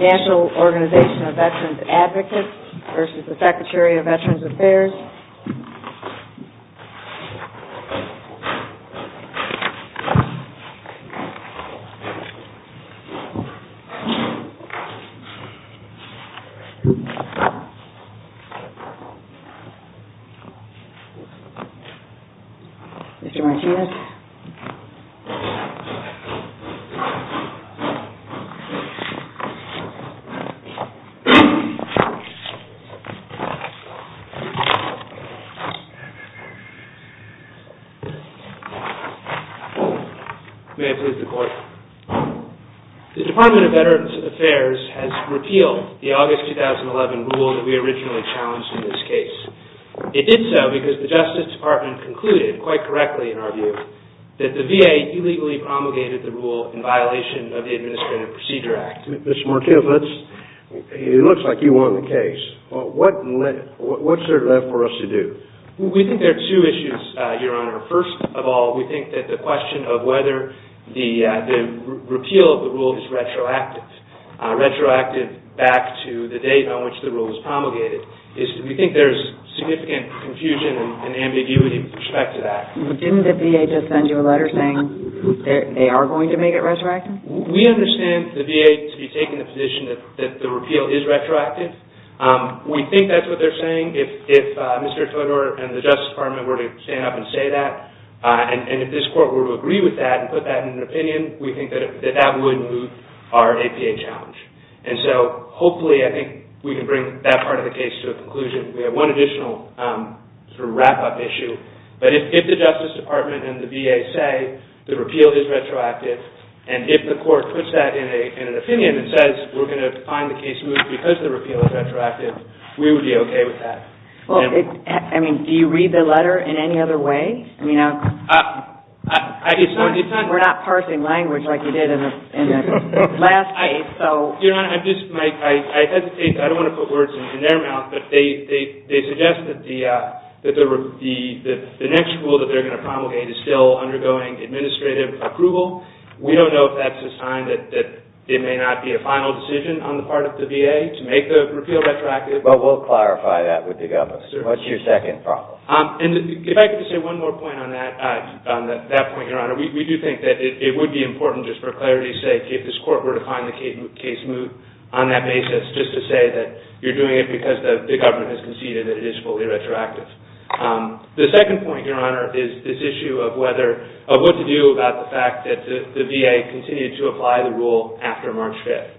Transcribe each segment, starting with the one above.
NATIONAL ORG OF VET ADV v. SECRETARY OF VETERANS' AFFAIRS MR. MARTINEZ The Department of Veterans Affairs has repealed the August 2011 rule that we originally challenged in this case. It did so because the Justice Department concluded, quite correctly in our opinion, that the rule was retroactive. We think there are two issues, Your Honor. First of all, we think that the question of whether the repeal of the rule is retroactive, retroactive back to the date on which the rule was promulgated, is that we think there is significant confusion and ambiguity with respect to that. Didn't the VA just send you a letter saying they are going to make it retroactive? We understand the VA to be taking the position that the repeal is retroactive. We think that's what they're saying. If Mr. Todor and the Justice Department were to stand up and say that, and if this Court were to agree with that and put that in an opinion, we think that that would move our APA challenge. And so, hopefully, I think we can bring that part of the case to a conclusion. We have one additional wrap-up issue. But if the Justice Department and the VA say the repeal is retroactive, and if the Court puts that in an opinion and says we're going to find the case moved because the repeal is retroactive, we would be okay with that. Well, I mean, do you read the letter in any other way? I mean, we're not parsing language like we did in the last case, so... Your Honor, I'm just, I hesitate, I don't want to put words in their mouth, but they suggest that the next rule that they're going to promulgate is still undergoing administrative approval. We don't know if that's a sign that it may not be a final decision on the part of the VA to make the repeal retroactive. But we'll clarify that with the government. What's your second problem? And if I could just say one more point on that point, Your Honor. We do think that it would be appropriate to, on that basis, just to say that you're doing it because the government has conceded that it is fully retroactive. The second point, Your Honor, is this issue of whether, of what to do about the fact that the VA continued to apply the rule after March 5th.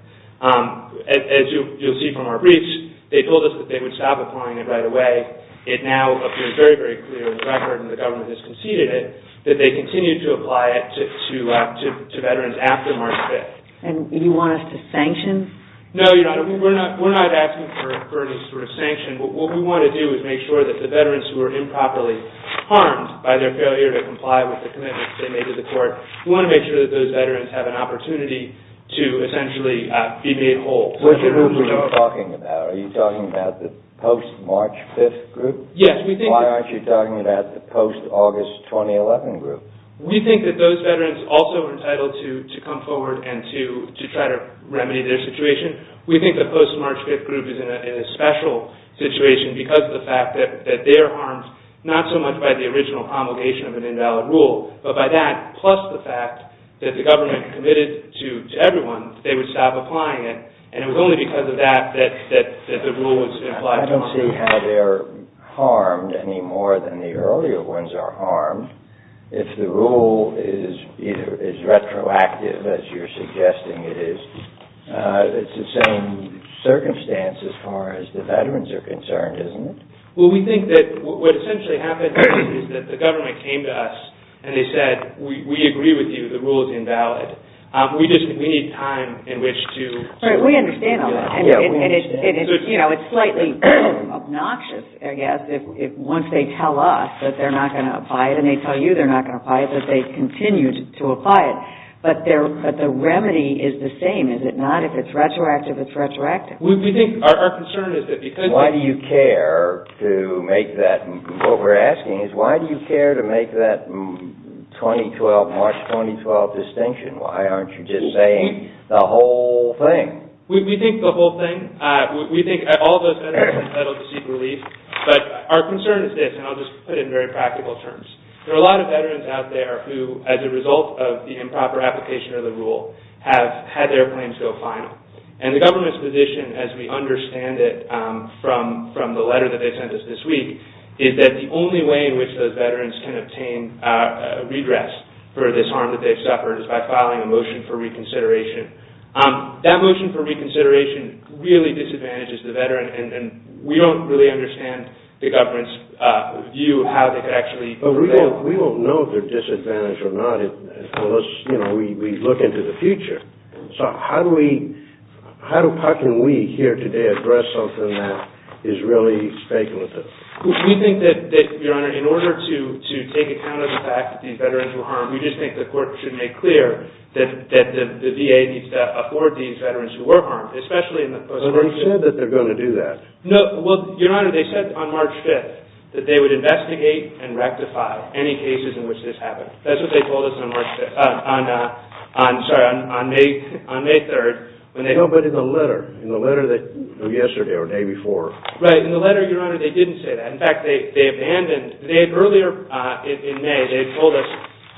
As you'll see from our briefs, they told us that they would stop applying it right away. It now appears very, very clear in the record, and the government has conceded it, that they continue to apply it to veterans after March 5th. And you want us to sanction? No, Your Honor. We're not asking for any sort of sanction. What we want to do is make sure that the veterans who are improperly harmed by their failure to comply with the commitments they made to the court, we want to make sure that those veterans have an opportunity to essentially be made whole. Which group are you talking about? Are you talking about the post-March 5th group? Yes. Why aren't you talking about the post-August 2011 group? We think that those veterans also are entitled to come forward and to try to remedy their situation. We think the post-March 5th group is in a special situation because of the fact that they are harmed, not so much by the original promulgation of an invalid rule, but by that, plus the fact that the government committed to everyone, they would stop applying it, and it was only because of that that the rule was implied to them. I don't see how they're harmed any more than the earlier ones are harmed. If the rule is either as retroactive as you're suggesting it is, it's the same circumstance as far as the veterans are concerned, isn't it? Well, we think that what essentially happened is that the government came to us and they said, we agree with you, the rule is invalid. We just, we need time in which to... We understand all that. It's slightly obnoxious, I guess, once they tell us that they're not going to apply it, and they tell you they're not going to apply it, but they continue to apply it. But the remedy is the same, is it not? If it's retroactive, it's retroactive. We think, our concern is that because... Why do you care to make that, what we're asking is, why do you care to make that 2012, March 2012 distinction? Why aren't you just saying the whole thing? We think the whole thing. We think all those veterans have settled to seek relief, but our concern is this, and I'll just put it in very practical terms. There are a lot of veterans out there who, as a result of the improper application of the rule, have had their claims go final. And the government's position, as we understand it from the letter that they sent us this week, is that the only way in which those veterans can obtain redress for this harm that they've suffered is by filing a motion for reconsideration. That motion for reconsideration really disadvantages the veteran, and we don't really understand the government's view of how they could actually prevail. But we don't know if they're disadvantaged or not, unless we look into the future. So how do we, how can we here today address something that is really speculative? We think that, Your Honor, in order to take account of the fact that these veterans were harmed, we just think the court should make clear that the VA needs to afford these veterans who were harmed, especially in the post-mortem period. But they said that they're going to do that. No, well, Your Honor, they said on March 5th that they would investigate and rectify any cases in which this happened. That's what they told us on March 5th, on, sorry, on May 3rd. No, but in the letter, in the letter that, yesterday or the day before. Right, in the letter, Your Honor, they didn't say that. In fact, they abandoned, they, earlier in May, they told us,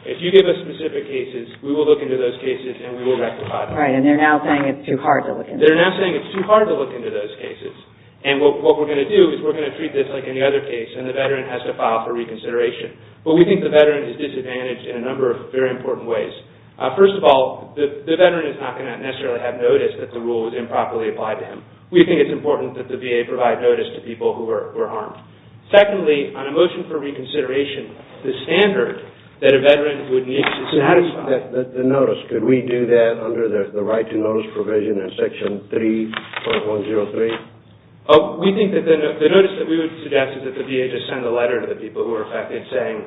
if you give us specific cases, we will look into those cases and we will rectify them. Right, and they're now saying it's too hard to look into. They're now saying it's too hard to look into those cases. And what we're going to do is we're going to treat this like any other case, and the veteran has to file for reconsideration. But we think the veteran is disadvantaged in a number of very important ways. First of all, the veteran is not going to necessarily have noticed that the rule was improperly written. We think it's important that the VA provide notice to people who were harmed. Secondly, on a motion for reconsideration, the standard that a veteran would need to satisfy... The notice, could we do that under the right to notice provision in Section 3.103? Oh, we think that the notice that we would suggest is that the VA just send a letter to the people who were affected saying,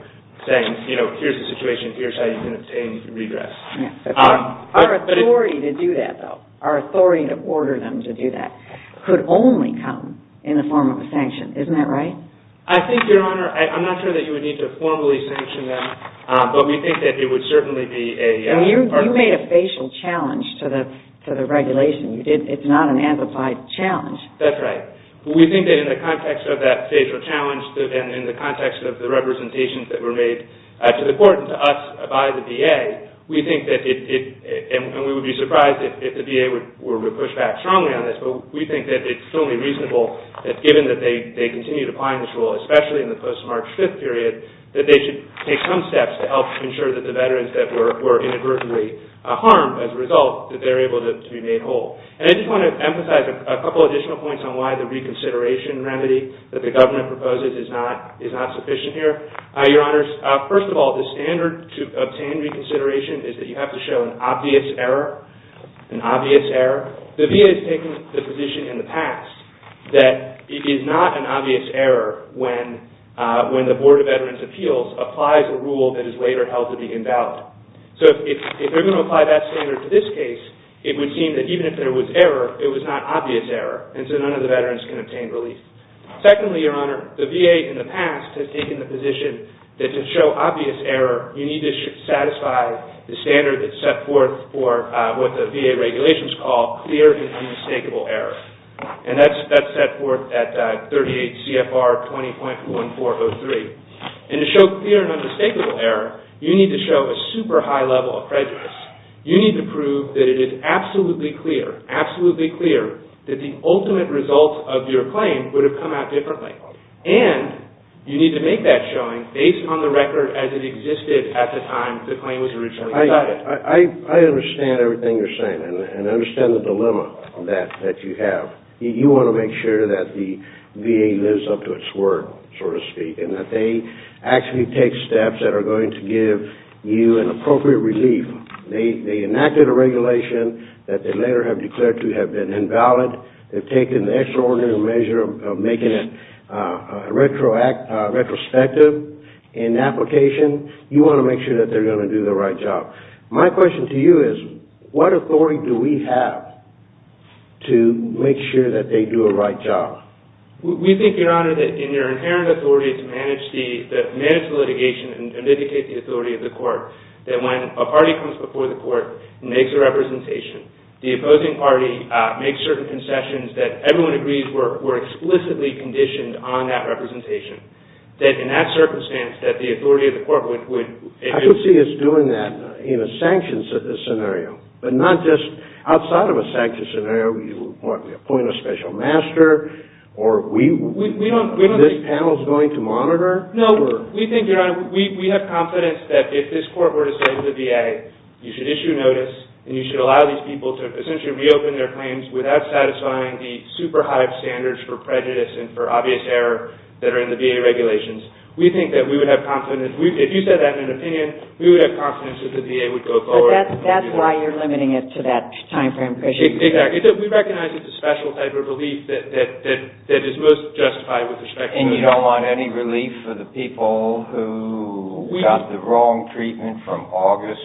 you know, here's the situation, here's how you can obtain, you can redress. Our authority to do that, though, our authority to order them to do that, could only come in the form of a sanction. Isn't that right? I think, Your Honor, I'm not sure that you would need to formally sanction them, but we think that it would certainly be a... You made a facial challenge to the regulation. It's not an amplified challenge. That's right. We think that in the context of that facial challenge and in the context of the representations that were made to the court and to us by the VA, we think that it... And we would be surprised if the VA were to push back strongly on this, but we think that it's totally reasonable that given that they continue to apply this rule, especially in the post-March 5th period, that they should take some steps to help ensure that the veterans that were inadvertently harmed as a result, that they're able to be made whole. And I just want to emphasize a couple additional points on why the reconsideration remedy that Your Honors, first of all, the standard to obtain reconsideration is that you have to show an obvious error, an obvious error. The VA has taken the position in the past that it is not an obvious error when the Board of Veterans' Appeals applies a rule that is later held to be invalid. So if they're going to apply that standard to this case, it would seem that even if there was error, it was not obvious error, and so none of the veterans can obtain relief. Secondly, Your Honor, the VA in the past has taken the position that to show obvious error, you need to satisfy the standard that's set forth for what the VA regulations call clear and undistakable error. And that's set forth at 38 CFR 20.1403. And to show clear and undistakable error, you need to show a super high level of prejudice. You need to prove that it is absolutely clear, absolutely clear that the ultimate result of your claim would have come out differently. And you need to make that showing based on the record as it existed at the time the claim was originally decided. I understand everything you're saying, and I understand the dilemma that you have. You want to make sure that the VA lives up to its word, so to speak, and that they actually take steps that are going to give you an appropriate relief. They enacted a regulation that they later have declared to have been invalid. They've taken the extraordinary measure of making it retrospective in application. You want to make sure that they're going to do the right job. My question to you is, what authority do we have to make sure that they do a right job? We think, Your Honor, that in your inherent authority to manage the litigation and dedicate the authority of the court, that when a party comes before the court and makes a representation, the opposing party makes certain concessions that everyone agrees were explicitly conditioned on that representation. That in that circumstance, that the authority of the court would... I could see us doing that in a sanctioned scenario, but not just outside of a sanctioned scenario. You appoint a special master, or we... We don't... This panel's going to monitor? No, we think, Your Honor, we have confidence that if this court were to say to the VA, you should issue notice, and you should allow these people to essentially reopen their claims without satisfying the super high standards for prejudice and for obvious error that are in the VA regulations, we think that we would have confidence. If you said that in an opinion, we would have confidence that the VA would go forward. That's why you're limiting it to that time frame. Exactly. We recognize it's a special type of relief that is most justified with respect to... And you don't want any relief for the people who got the wrong treatment from August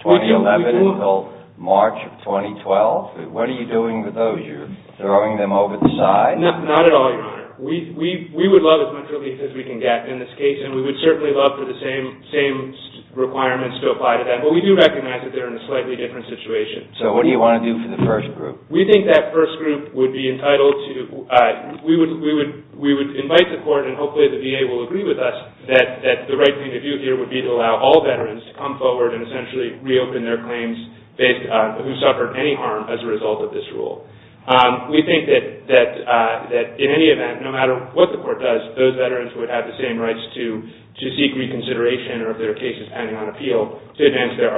2011 until March of 2012? What are you doing with those? You're throwing them over the side? Not at all, Your Honor. We would love as much relief as we can get in this case, and we would certainly love for the same requirements to apply to them, but we do recognize that they're in a slightly different situation. So what do you want to do for the first group? We think that first group would be entitled to... We would invite the court, and hopefully the VA will agree with us, that the right thing to do here would be to allow all veterans to come forward and essentially reopen their claims based on who suffered any harm as a result of this rule. We think that in any event, no matter what the court does, those veterans would have the same rights to seek reconsideration of their cases pending on appeal to advance their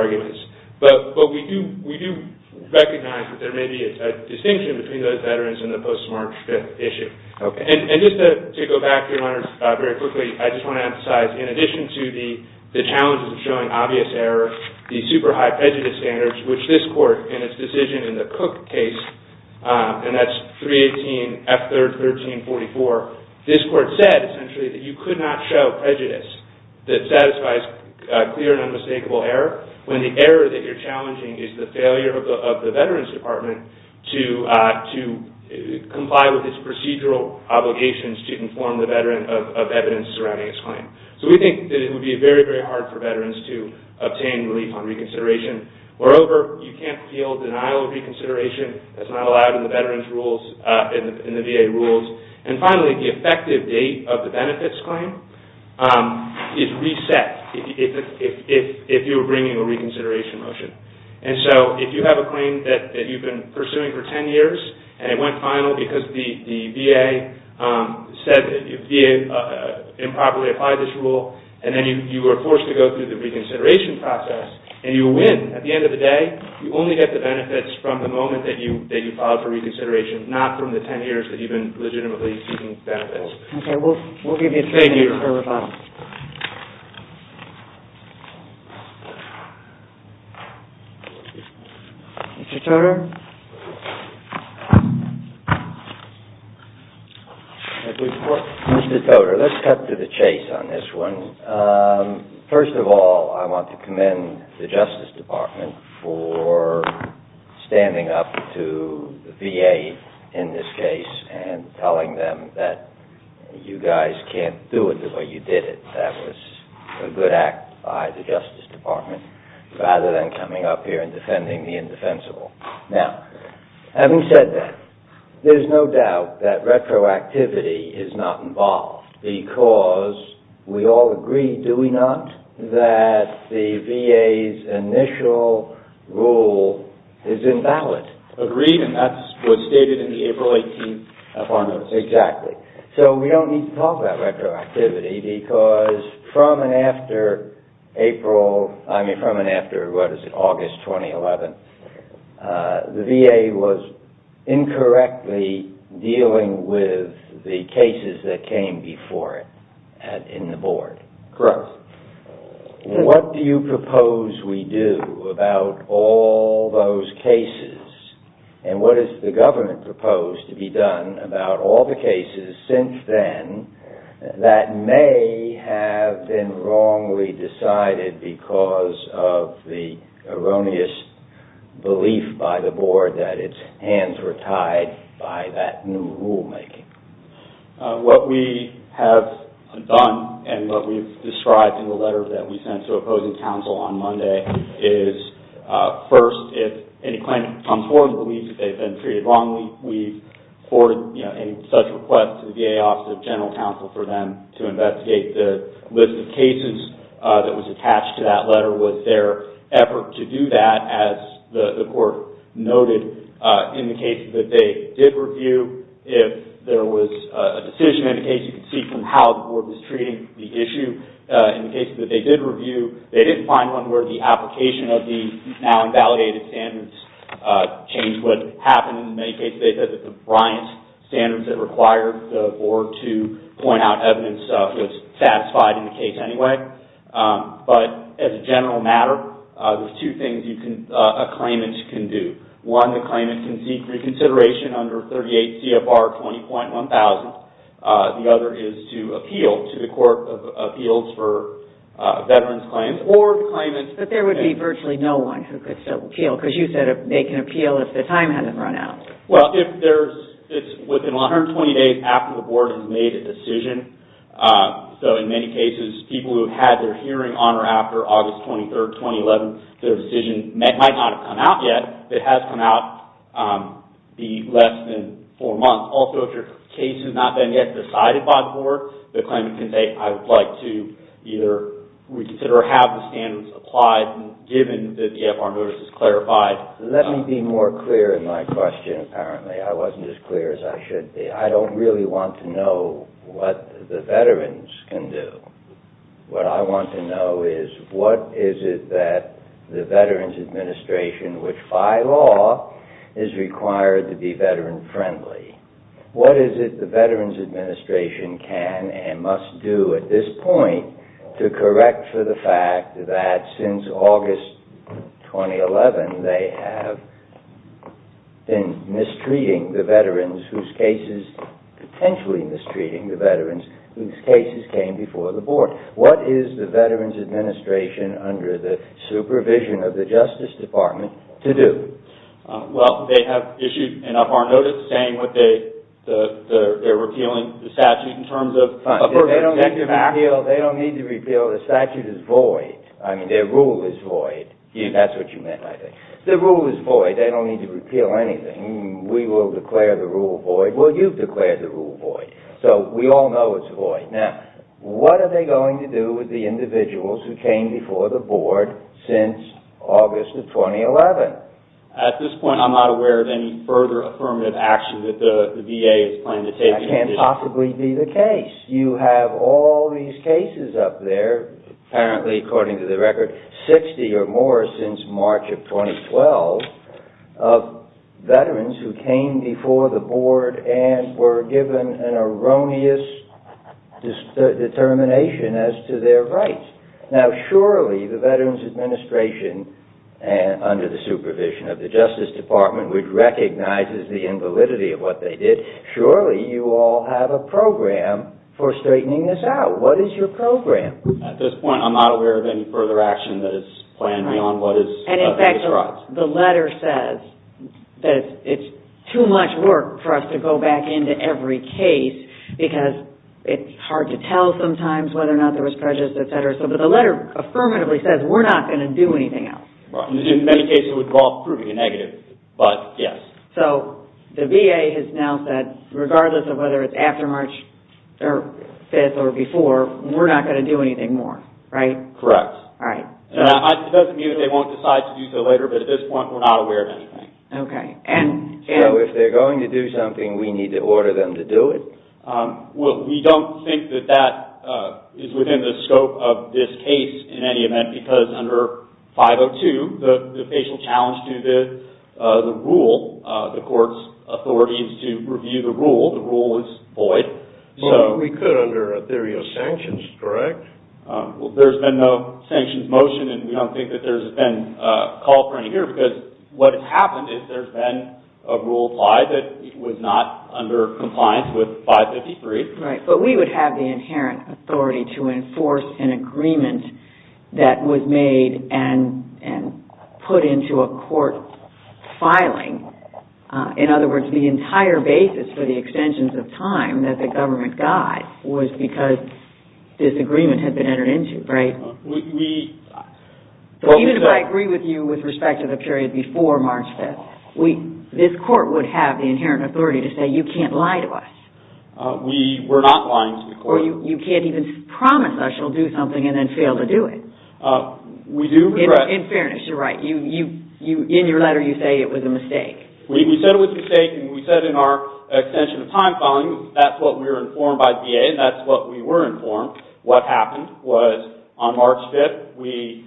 distinction between those veterans and the post-March 5th issue. And just to go back, Your Honor, very quickly, I just want to emphasize, in addition to the challenges of showing obvious error, the super high prejudice standards, which this court in its decision in the Cook case, and that's 318 F. 3rd 1344, this court said essentially that you could not show prejudice that satisfies clear and unmistakable error when the error that you're challenging is the failure of the veterans' department to comply with its procedural obligations to inform the veteran of evidence surrounding its claim. So we think that it would be very, very hard for veterans to obtain relief on reconsideration. Moreover, you can't appeal denial of reconsideration. That's not allowed in the veterans' rules, in the VA rules. And finally, the effective date of the benefits claim is reset if you're bringing a reconsideration motion. And so if you have a claim that you've been pursuing for 10 years, and it went final because the VA said that the VA improperly applied this rule, and then you were forced to go through the reconsideration process, and you win, at the end of the day, you only get the benefits from the moment that you filed for reconsideration, not from the 10 years that you've been legitimately seeking benefits. We'll give you three minutes for rebuttal. Mr. Toder? Mr. Toder, let's cut to the chase on this one. First of all, I want to commend the Justice Department for standing up to the VA in this case. You guys can't do it the way you did it. That was a good act by the Justice Department, rather than coming up here and defending the indefensible. Now, having said that, there's no doubt that retroactivity is not involved, because we all agree, do we not, that the VA's initial rule is invalid. Agreed, and that's what's stated in the April 18th of our notice. Exactly. So, we don't need to talk about retroactivity, because from and after April, I mean, from and after, what is it, August 2011, the VA was incorrectly dealing with the cases that came before it in the board. Correct. What do you propose we do about all those cases, and what does the government propose to be done about all the cases since then that may have been wrongly decided because of the erroneous belief by the board that its hands were tied by that new rulemaking? What we have done, and what we've described in the letter that we sent to opposing counsel on Monday, is first, if any claimant comes forward and believes that they've been treated wrongly, we forward any such request to the VA Office of General Counsel for them to investigate the list of cases that was attached to that letter. Was there effort to do that, as the court noted, in the case that they did review? If there was a decision in the case, you can see from how the board was treating the issue in the case that they did review, they didn't find one where the application of the now invalidated standards changed what happened. In many cases, they said that the Bryant standards that required the board to point out evidence was satisfied in the case anyway, but as a general matter, there's two things a claimant can do. One, the claimant can seek reconsideration under 38 CFR 20.1000. The other is to appeal to the Court of Appeals for Veterans Claims. But there would be virtually no one who could still appeal, because you said they can appeal if the time hasn't run out. Well, it's within 120 days after the board has made a decision, so in many cases, people who have had their hearing on or after August 23, 2011, their decision might not have come out yet, but it has come out in less than four months. Also, if your case has not been yet decided by the board, the claimant can say, I would like to either reconsider or have the standards applied, given that the FR notice is clarified. Let me be more clear in my question, apparently. I wasn't as clear as I should be. I don't really want to know what the veterans can do. What I want to know is, what is it that the Veterans Administration, which by law is required to be veteran-friendly, what is it the Veterans Administration can and must do at this point to correct for the fact that since August 2011, they have been mistreating the veterans whose cases, potentially mistreating the veterans whose cases came before the board? What is the Veterans Administration, under the supervision of the Justice Department, to do? Well, they have issued an FR notice saying that they're repealing the statute in terms of... They don't need to repeal the statute. The statute is void. I mean, their rule is void. That's what you meant, I think. Their rule is void. They don't need to repeal anything. We will declare the rule void. Well, you've declared the rule void, so we all know it's void. Now, what are they going to do with the individuals who came before the board since August of 2011? At this point, I'm not aware of any further affirmative action that the VA is planning to take. That can't possibly be the case. You have all these cases up there, apparently, according to the record, 60 or more since March of 2012, of veterans who came before the board and were given an erroneous determination as to their rights. Now, surely the Veterans Administration, under the supervision of the Justice Department, which recognizes the invalidity of what they did, surely you all have a program for straightening this out. What is your program? At this point, I'm not aware of any further action that is planned beyond what is described. The letter says that it's too much work for us to go back into every case because it's hard to tell sometimes whether or not there was prejudice, etc. But the letter affirmatively says we're not going to do anything else. In many cases, it would involve proving a negative, but yes. So the VA has now said, regardless of whether it's after March 5th or before, we're not going to do anything more, right? Correct. It doesn't mean that they won't decide to do so later, but at this point, we're not aware of anything. Okay. So if they're going to do something, we need to order them to do it? Well, we don't think that that is within the scope of this case in any event because under 502, the official challenge to the rule, the court's authority is to review the rule. The rule is void. We could under a theory of sanctions, correct? There's been no sanctions motion, and we don't think that there's been a call for any here because what has happened is there's been a rule applied that was not under compliance with 553. Right, but we would have the inherent authority to enforce an agreement that was made and put into a court filing. In other words, the entire basis for the extensions of time that the government died was because disagreement had been entered into, right? Even if I agree with you with respect to the period before March 5th, this court would have the inherent authority to say you can't lie to us. We're not lying to the court. Or you can't even promise us you'll do something and then fail to do it. In fairness, you're right. In your letter, you say it was a mistake. We said it was a mistake, and we said in our extension of time filing that's what we were informed by VA, and that's what we were informed. What happened was on March 5th, we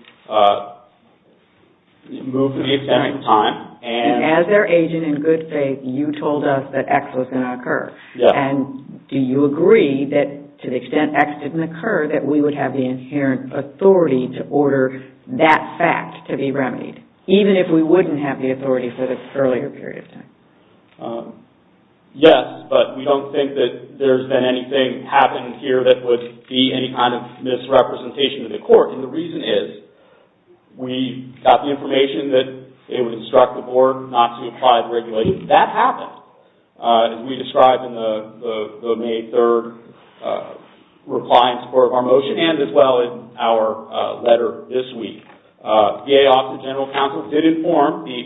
moved the extension of time. And as their agent in good faith, you told us that X was going to occur. And do you agree that to the extent X didn't occur, that we would have the inherent authority to order that fact to be remedied, even if we wouldn't have the authority for the earlier period of time? Yes, but we don't think that there's been anything happening here that would be any kind of misrepresentation to the court. And the reason is we got the information that it would instruct the board not to apply the regulations. That happened, as we described in the May 3rd reply in support of our motion and as well in our letter this week. VA Office of General Counsel did inform the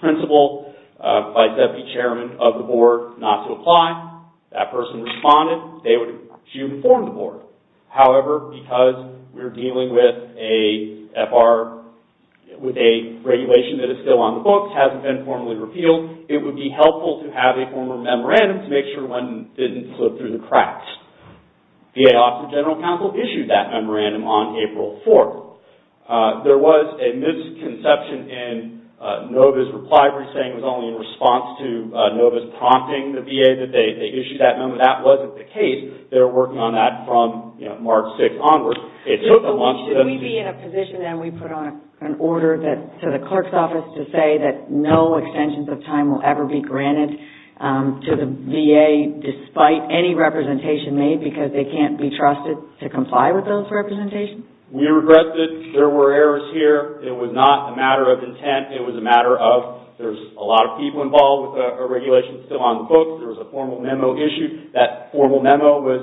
principal vice deputy chairman of the board not to apply. That person responded. They were to inform the board. However, because we're dealing with a regulation that is still on the books, hasn't been formally repealed, it would be helpful to have a former memorandum to make sure one didn't slip through the cracks. VA Office of General Counsel issued that memorandum on April 4th. There was a misconception in Nova's reply. We're saying it was only in response to Nova's prompting the VA that they issued that memorandum. That wasn't the case. They were working on that from March 6th onward. It took a month to- Should we be in a position then we put on an order to the clerk's office to say that no extensions of time will ever be granted to the VA despite any representation made because they can't be trusted to comply with those representations? We regret that there were errors here. It was not a matter of intent. It was a matter of there's a lot of people involved with a regulation still on the books. There was a formal memo issued. That formal memo was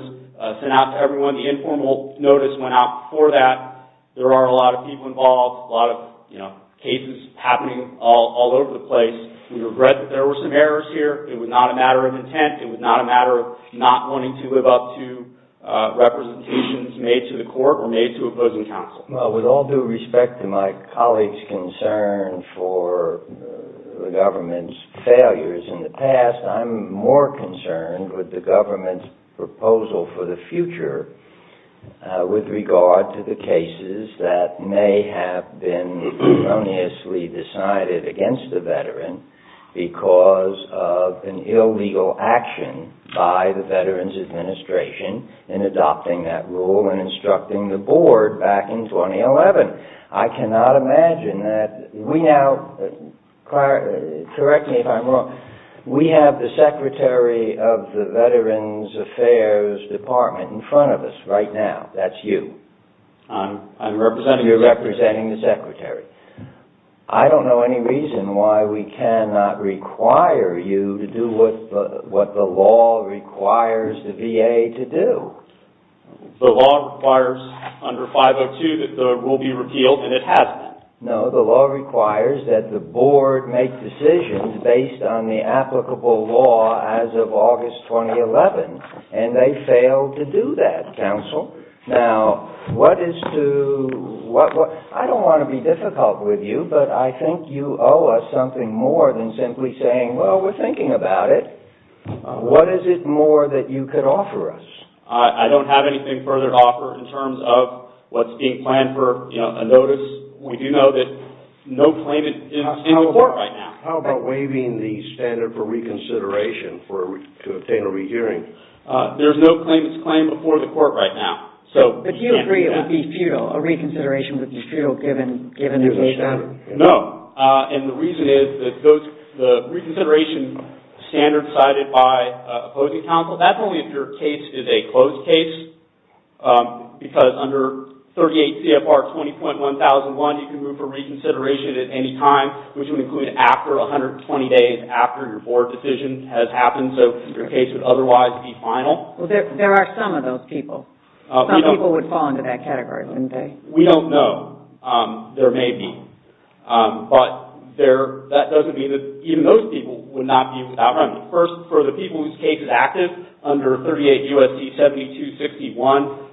sent out to everyone. The informal notice went out for that. There are a lot of people involved, a lot of cases happening all over the place. We regret that there were some errors here. It was not a matter of intent. It was not a matter of not wanting to live up to representations made to the court or made to opposing counsel. Well, with all due respect to my colleague's concern for the government's failures in the past, I'm more concerned with the government's proposal for the future with regard to the cases that may have been erroneously decided against the veteran because of an illegal action by the Veterans Administration in adopting that rule and instructing the board back in 2011. I cannot imagine that we now, correct me if I'm wrong, we have the Secretary of the Veterans Affairs Department in front of us right now. That's you. I'm representing the Secretary. You're representing the Secretary. I don't know any reason why we cannot require you to do what the law requires the VA to do. The law requires under 502 that the rule be repealed, and it hasn't. No, the law requires that the board make decisions based on the applicable law as of August 2011, and they failed to do that, counsel. Now, I don't want to be difficult with you, but I think you owe us something more than simply saying, well, we're thinking about it. What is it more that you could offer us? I don't have anything further to offer in terms of what's being planned for a notice. We do know that no claimant is in the court right now. How about waiving the standard for reconsideration to obtain a rehearing? There's no claimant's claim before the court right now. But you agree it would be futile. A reconsideration would be futile given the standard. No, and the reason is that the reconsideration standard cited by opposing counsel, that's only if your case is a closed case, because under 38 CFR 20.1001, you can move for reconsideration at any time, which would include after 120 days after your board decision has happened, so your case would otherwise be final. Well, there are some of those people. Some people would fall into that category, wouldn't they? We don't know. There may be. But that doesn't mean that even those people would not be outrun. First, for the people whose case is active under 38 U.S.C. 7261,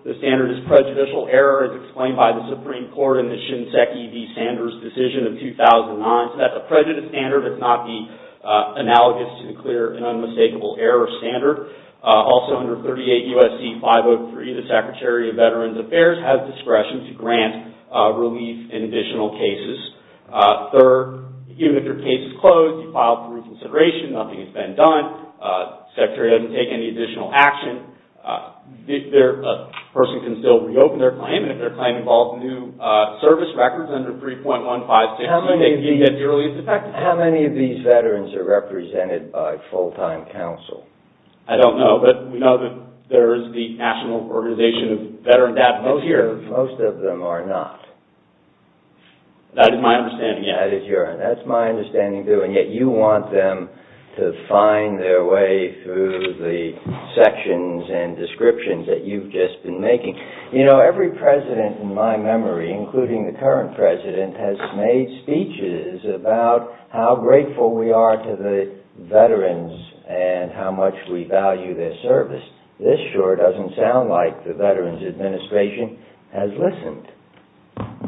the standard is prejudicial error as explained by the Supreme Court in the Shinseki v. Sanders decision of 2009. So that's a prejudiced standard. It's not the analogous to the clear and unmistakable error standard. Also under 38 U.S.C. 503, the Secretary of Veterans Affairs has discretion to grant relief in additional cases. Third, even if your case is closed, you filed for reconsideration, nothing has been done, the Secretary doesn't take any additional action, a person can still reopen their claim, and if their claim involves new service records under 3.156, how many of these veterans are represented by full-time counsel? I don't know. But we know that there is the National Organization of Veteran Advocates here. Most of them are not. That is my understanding, yes. That is my understanding, too. And yet you want them to find their way through the sections and descriptions that you've just been making. You know, every president in my memory, including the current president, has made speeches about how grateful we are to the veterans and how much we value their service. This sure doesn't sound like the Veterans Administration has listened.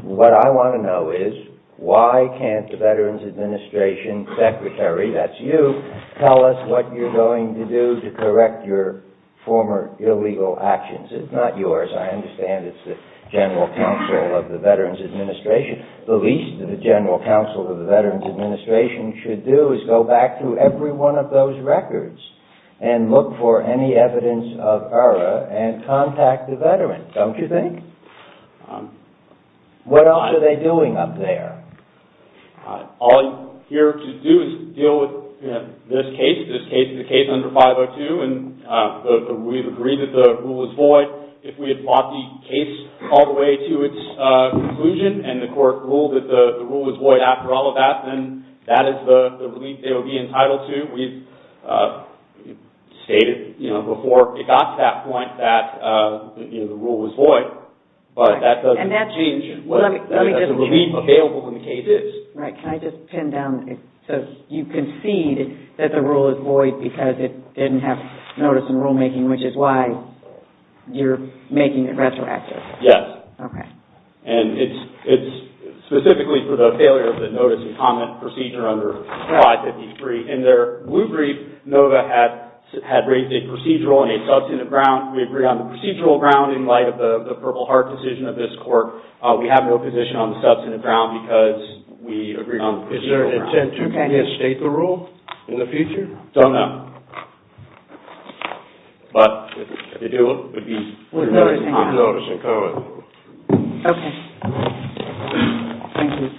What I want to know is, why can't the Veterans Administration secretary, that's you, tell us what you're going to do to correct your former illegal actions? It's not yours. I understand it's the General Counsel of the Veterans Administration. The least the General Counsel of the Veterans Administration should do is go back through every one of those records and look for any evidence of error and contact the veteran, don't you think? What else are they doing up there? All you're here to do is deal with this case, the case under 502, and we've agreed that the rule is void. If we had fought the case all the way to its conclusion and the court ruled that the rule was void after all of that, then that is the relief they would be entitled to. We've stated before it got to that point that the rule was void, but that doesn't change what the relief available in the case is. Right, can I just pin down, so you concede that the rule is void because it didn't have notice and rulemaking, which is why you're making it retroactive? Yes. Okay. And it's specifically for the failure of the notice and comment procedure under 553. In their blue brief, NOVA had raised a procedural and a substantive ground. We agree on the procedural ground in light of the Purple Heart decision of this court. We have no position on the substantive ground because we agree on the procedural ground. Is there an intent to reinstate the rule in the future? Don't know. But if they do, it would be on notice and comment. Okay. Thank you.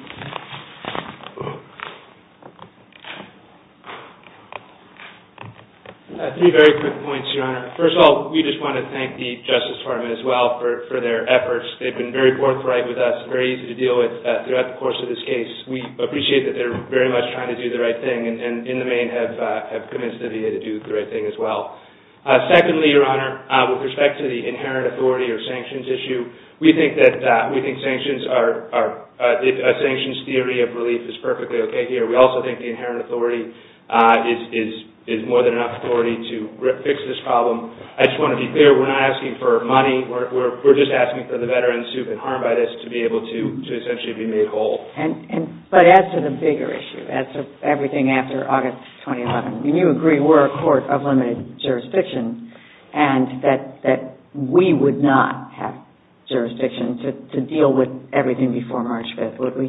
Three very quick points, Your Honor. First of all, we just want to thank the Justice Department as well for their efforts. They've been very forthright with us, very easy to deal with throughout the course of this case. We appreciate that they're very much trying to do the right thing and in the main have committed to do the right thing as well. Secondly, Your Honor, with respect to the inherent authority or sanctions issue, we think sanctions are, a sanctions theory of relief is perfectly okay here. We also think the inherent authority is more than enough authority to fix this problem. I just want to be clear, we're not asking for money. We're just asking for the veterans who've been harmed by this to be able to essentially be made whole. But as to the bigger issue, as to everything after August 2011, when you agree we're a court of limited jurisdiction and that we would not have jurisdiction to deal with everything before March 5th, would we?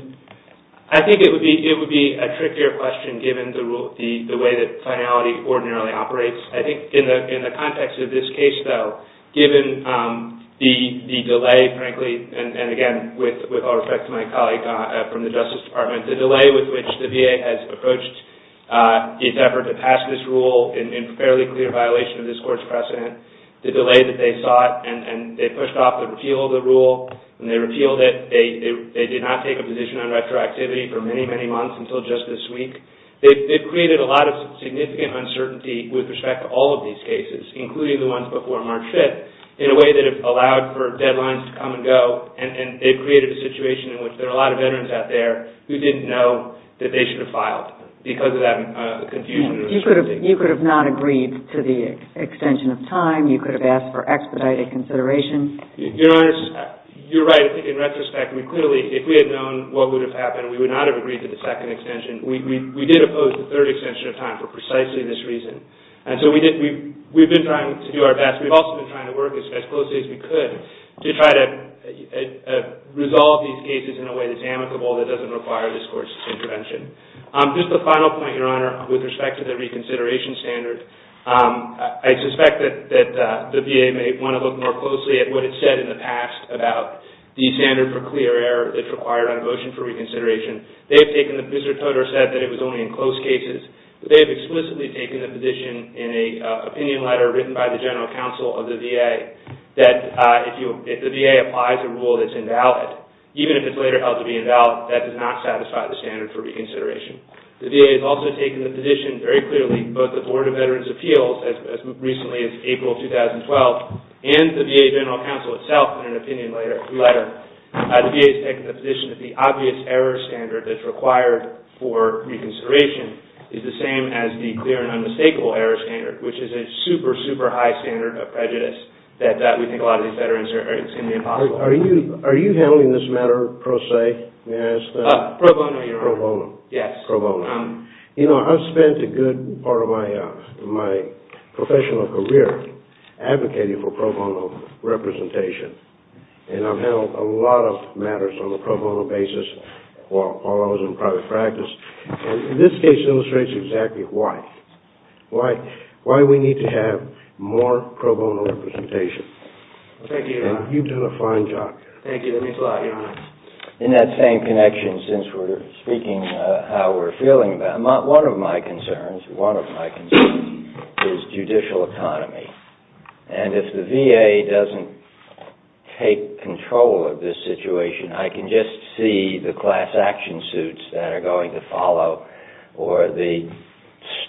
I think it would be a trickier question given the way that finality ordinarily operates. I think in the context of this case, though, given the delay, frankly, and again with all respect to my colleague from the Justice Department, the delay with which the VA has approached its effort to pass this rule in fairly clear violation of this court's precedent, the delay that they saw it and they pushed off the repeal of the rule. When they repealed it, they did not take a position on retroactivity for many, many months until just this week. They've created a lot of significant uncertainty with respect to all of these cases, including the ones before March 5th, in a way that it allowed for deadlines to come and go and they've created a situation in which there are a lot of veterans out there who didn't know that they should have filed because of that confusion. You could have not agreed to the extension of time. You could have asked for expedited consideration. Your Honor, you're right. I think in retrospect, we clearly, if we had known what would have happened, we would not have agreed to the second extension. We did oppose the third extension of time for precisely this reason. We've been trying to do our best. We've also been trying to work as closely as we could to try to resolve these cases in a way that's amicable, that doesn't require this court's intervention. Just a final point, Your Honor, with respect to the reconsideration standard. I suspect that the VA may want to look more closely at what it said in the past about the standard for clear error that's required on a motion for reconsideration. Mr. Todor said that it was only in close cases. They've explicitly taken the position in an opinion letter written by the general counsel of the VA that if the VA applies a rule that's invalid, even if it's later held to be invalid, that does not satisfy the standard for reconsideration. The VA has also taken the position very clearly, both the Board of Veterans' Appeals, as recently as April 2012, and the VA general counsel itself in an opinion letter. The VA has taken the position that the obvious error standard that's required for reconsideration is the same as the clear and unmistakable error standard, which is a super, super high standard of prejudice that we think a lot of these veterans are going to be impossible. Are you handling this matter pro se? Pro bono, Your Honor. Pro bono. You know, I've spent a good part of my professional career advocating for pro bono representation, and I've handled a lot of matters on a pro bono basis while I was in private practice, and this case illustrates exactly why. Why we need to have more pro bono representation. Thank you, Your Honor. And you've done a fine job. Thank you. That means a lot, Your Honor. In that same connection, since we're speaking how we're feeling about it, one of my concerns is judicial economy. And if the VA doesn't take control of this situation, I can just see the class action suits that are going to follow or the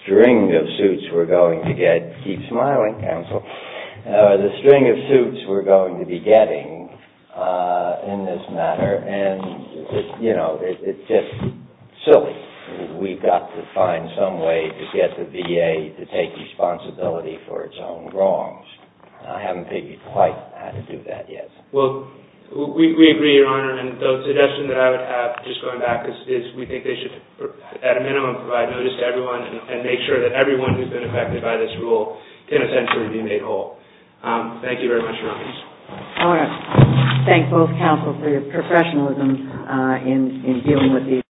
string of suits we're going to get. Keep smiling, counsel. The string of suits we're going to be getting in this matter, and, you know, it's just silly. We've got to find some way to get the VA to take responsibility for its own wrongs. I haven't figured quite how to do that yet. Well, we agree, Your Honor, and the suggestion that I would have, just going back, is we think they should, at a minimum, provide notice to everyone and make sure that everyone who's been affected by this rule can essentially be made whole. Thank you very much, Your Honor. I want to thank both counsel for your professionalism in dealing with these issues.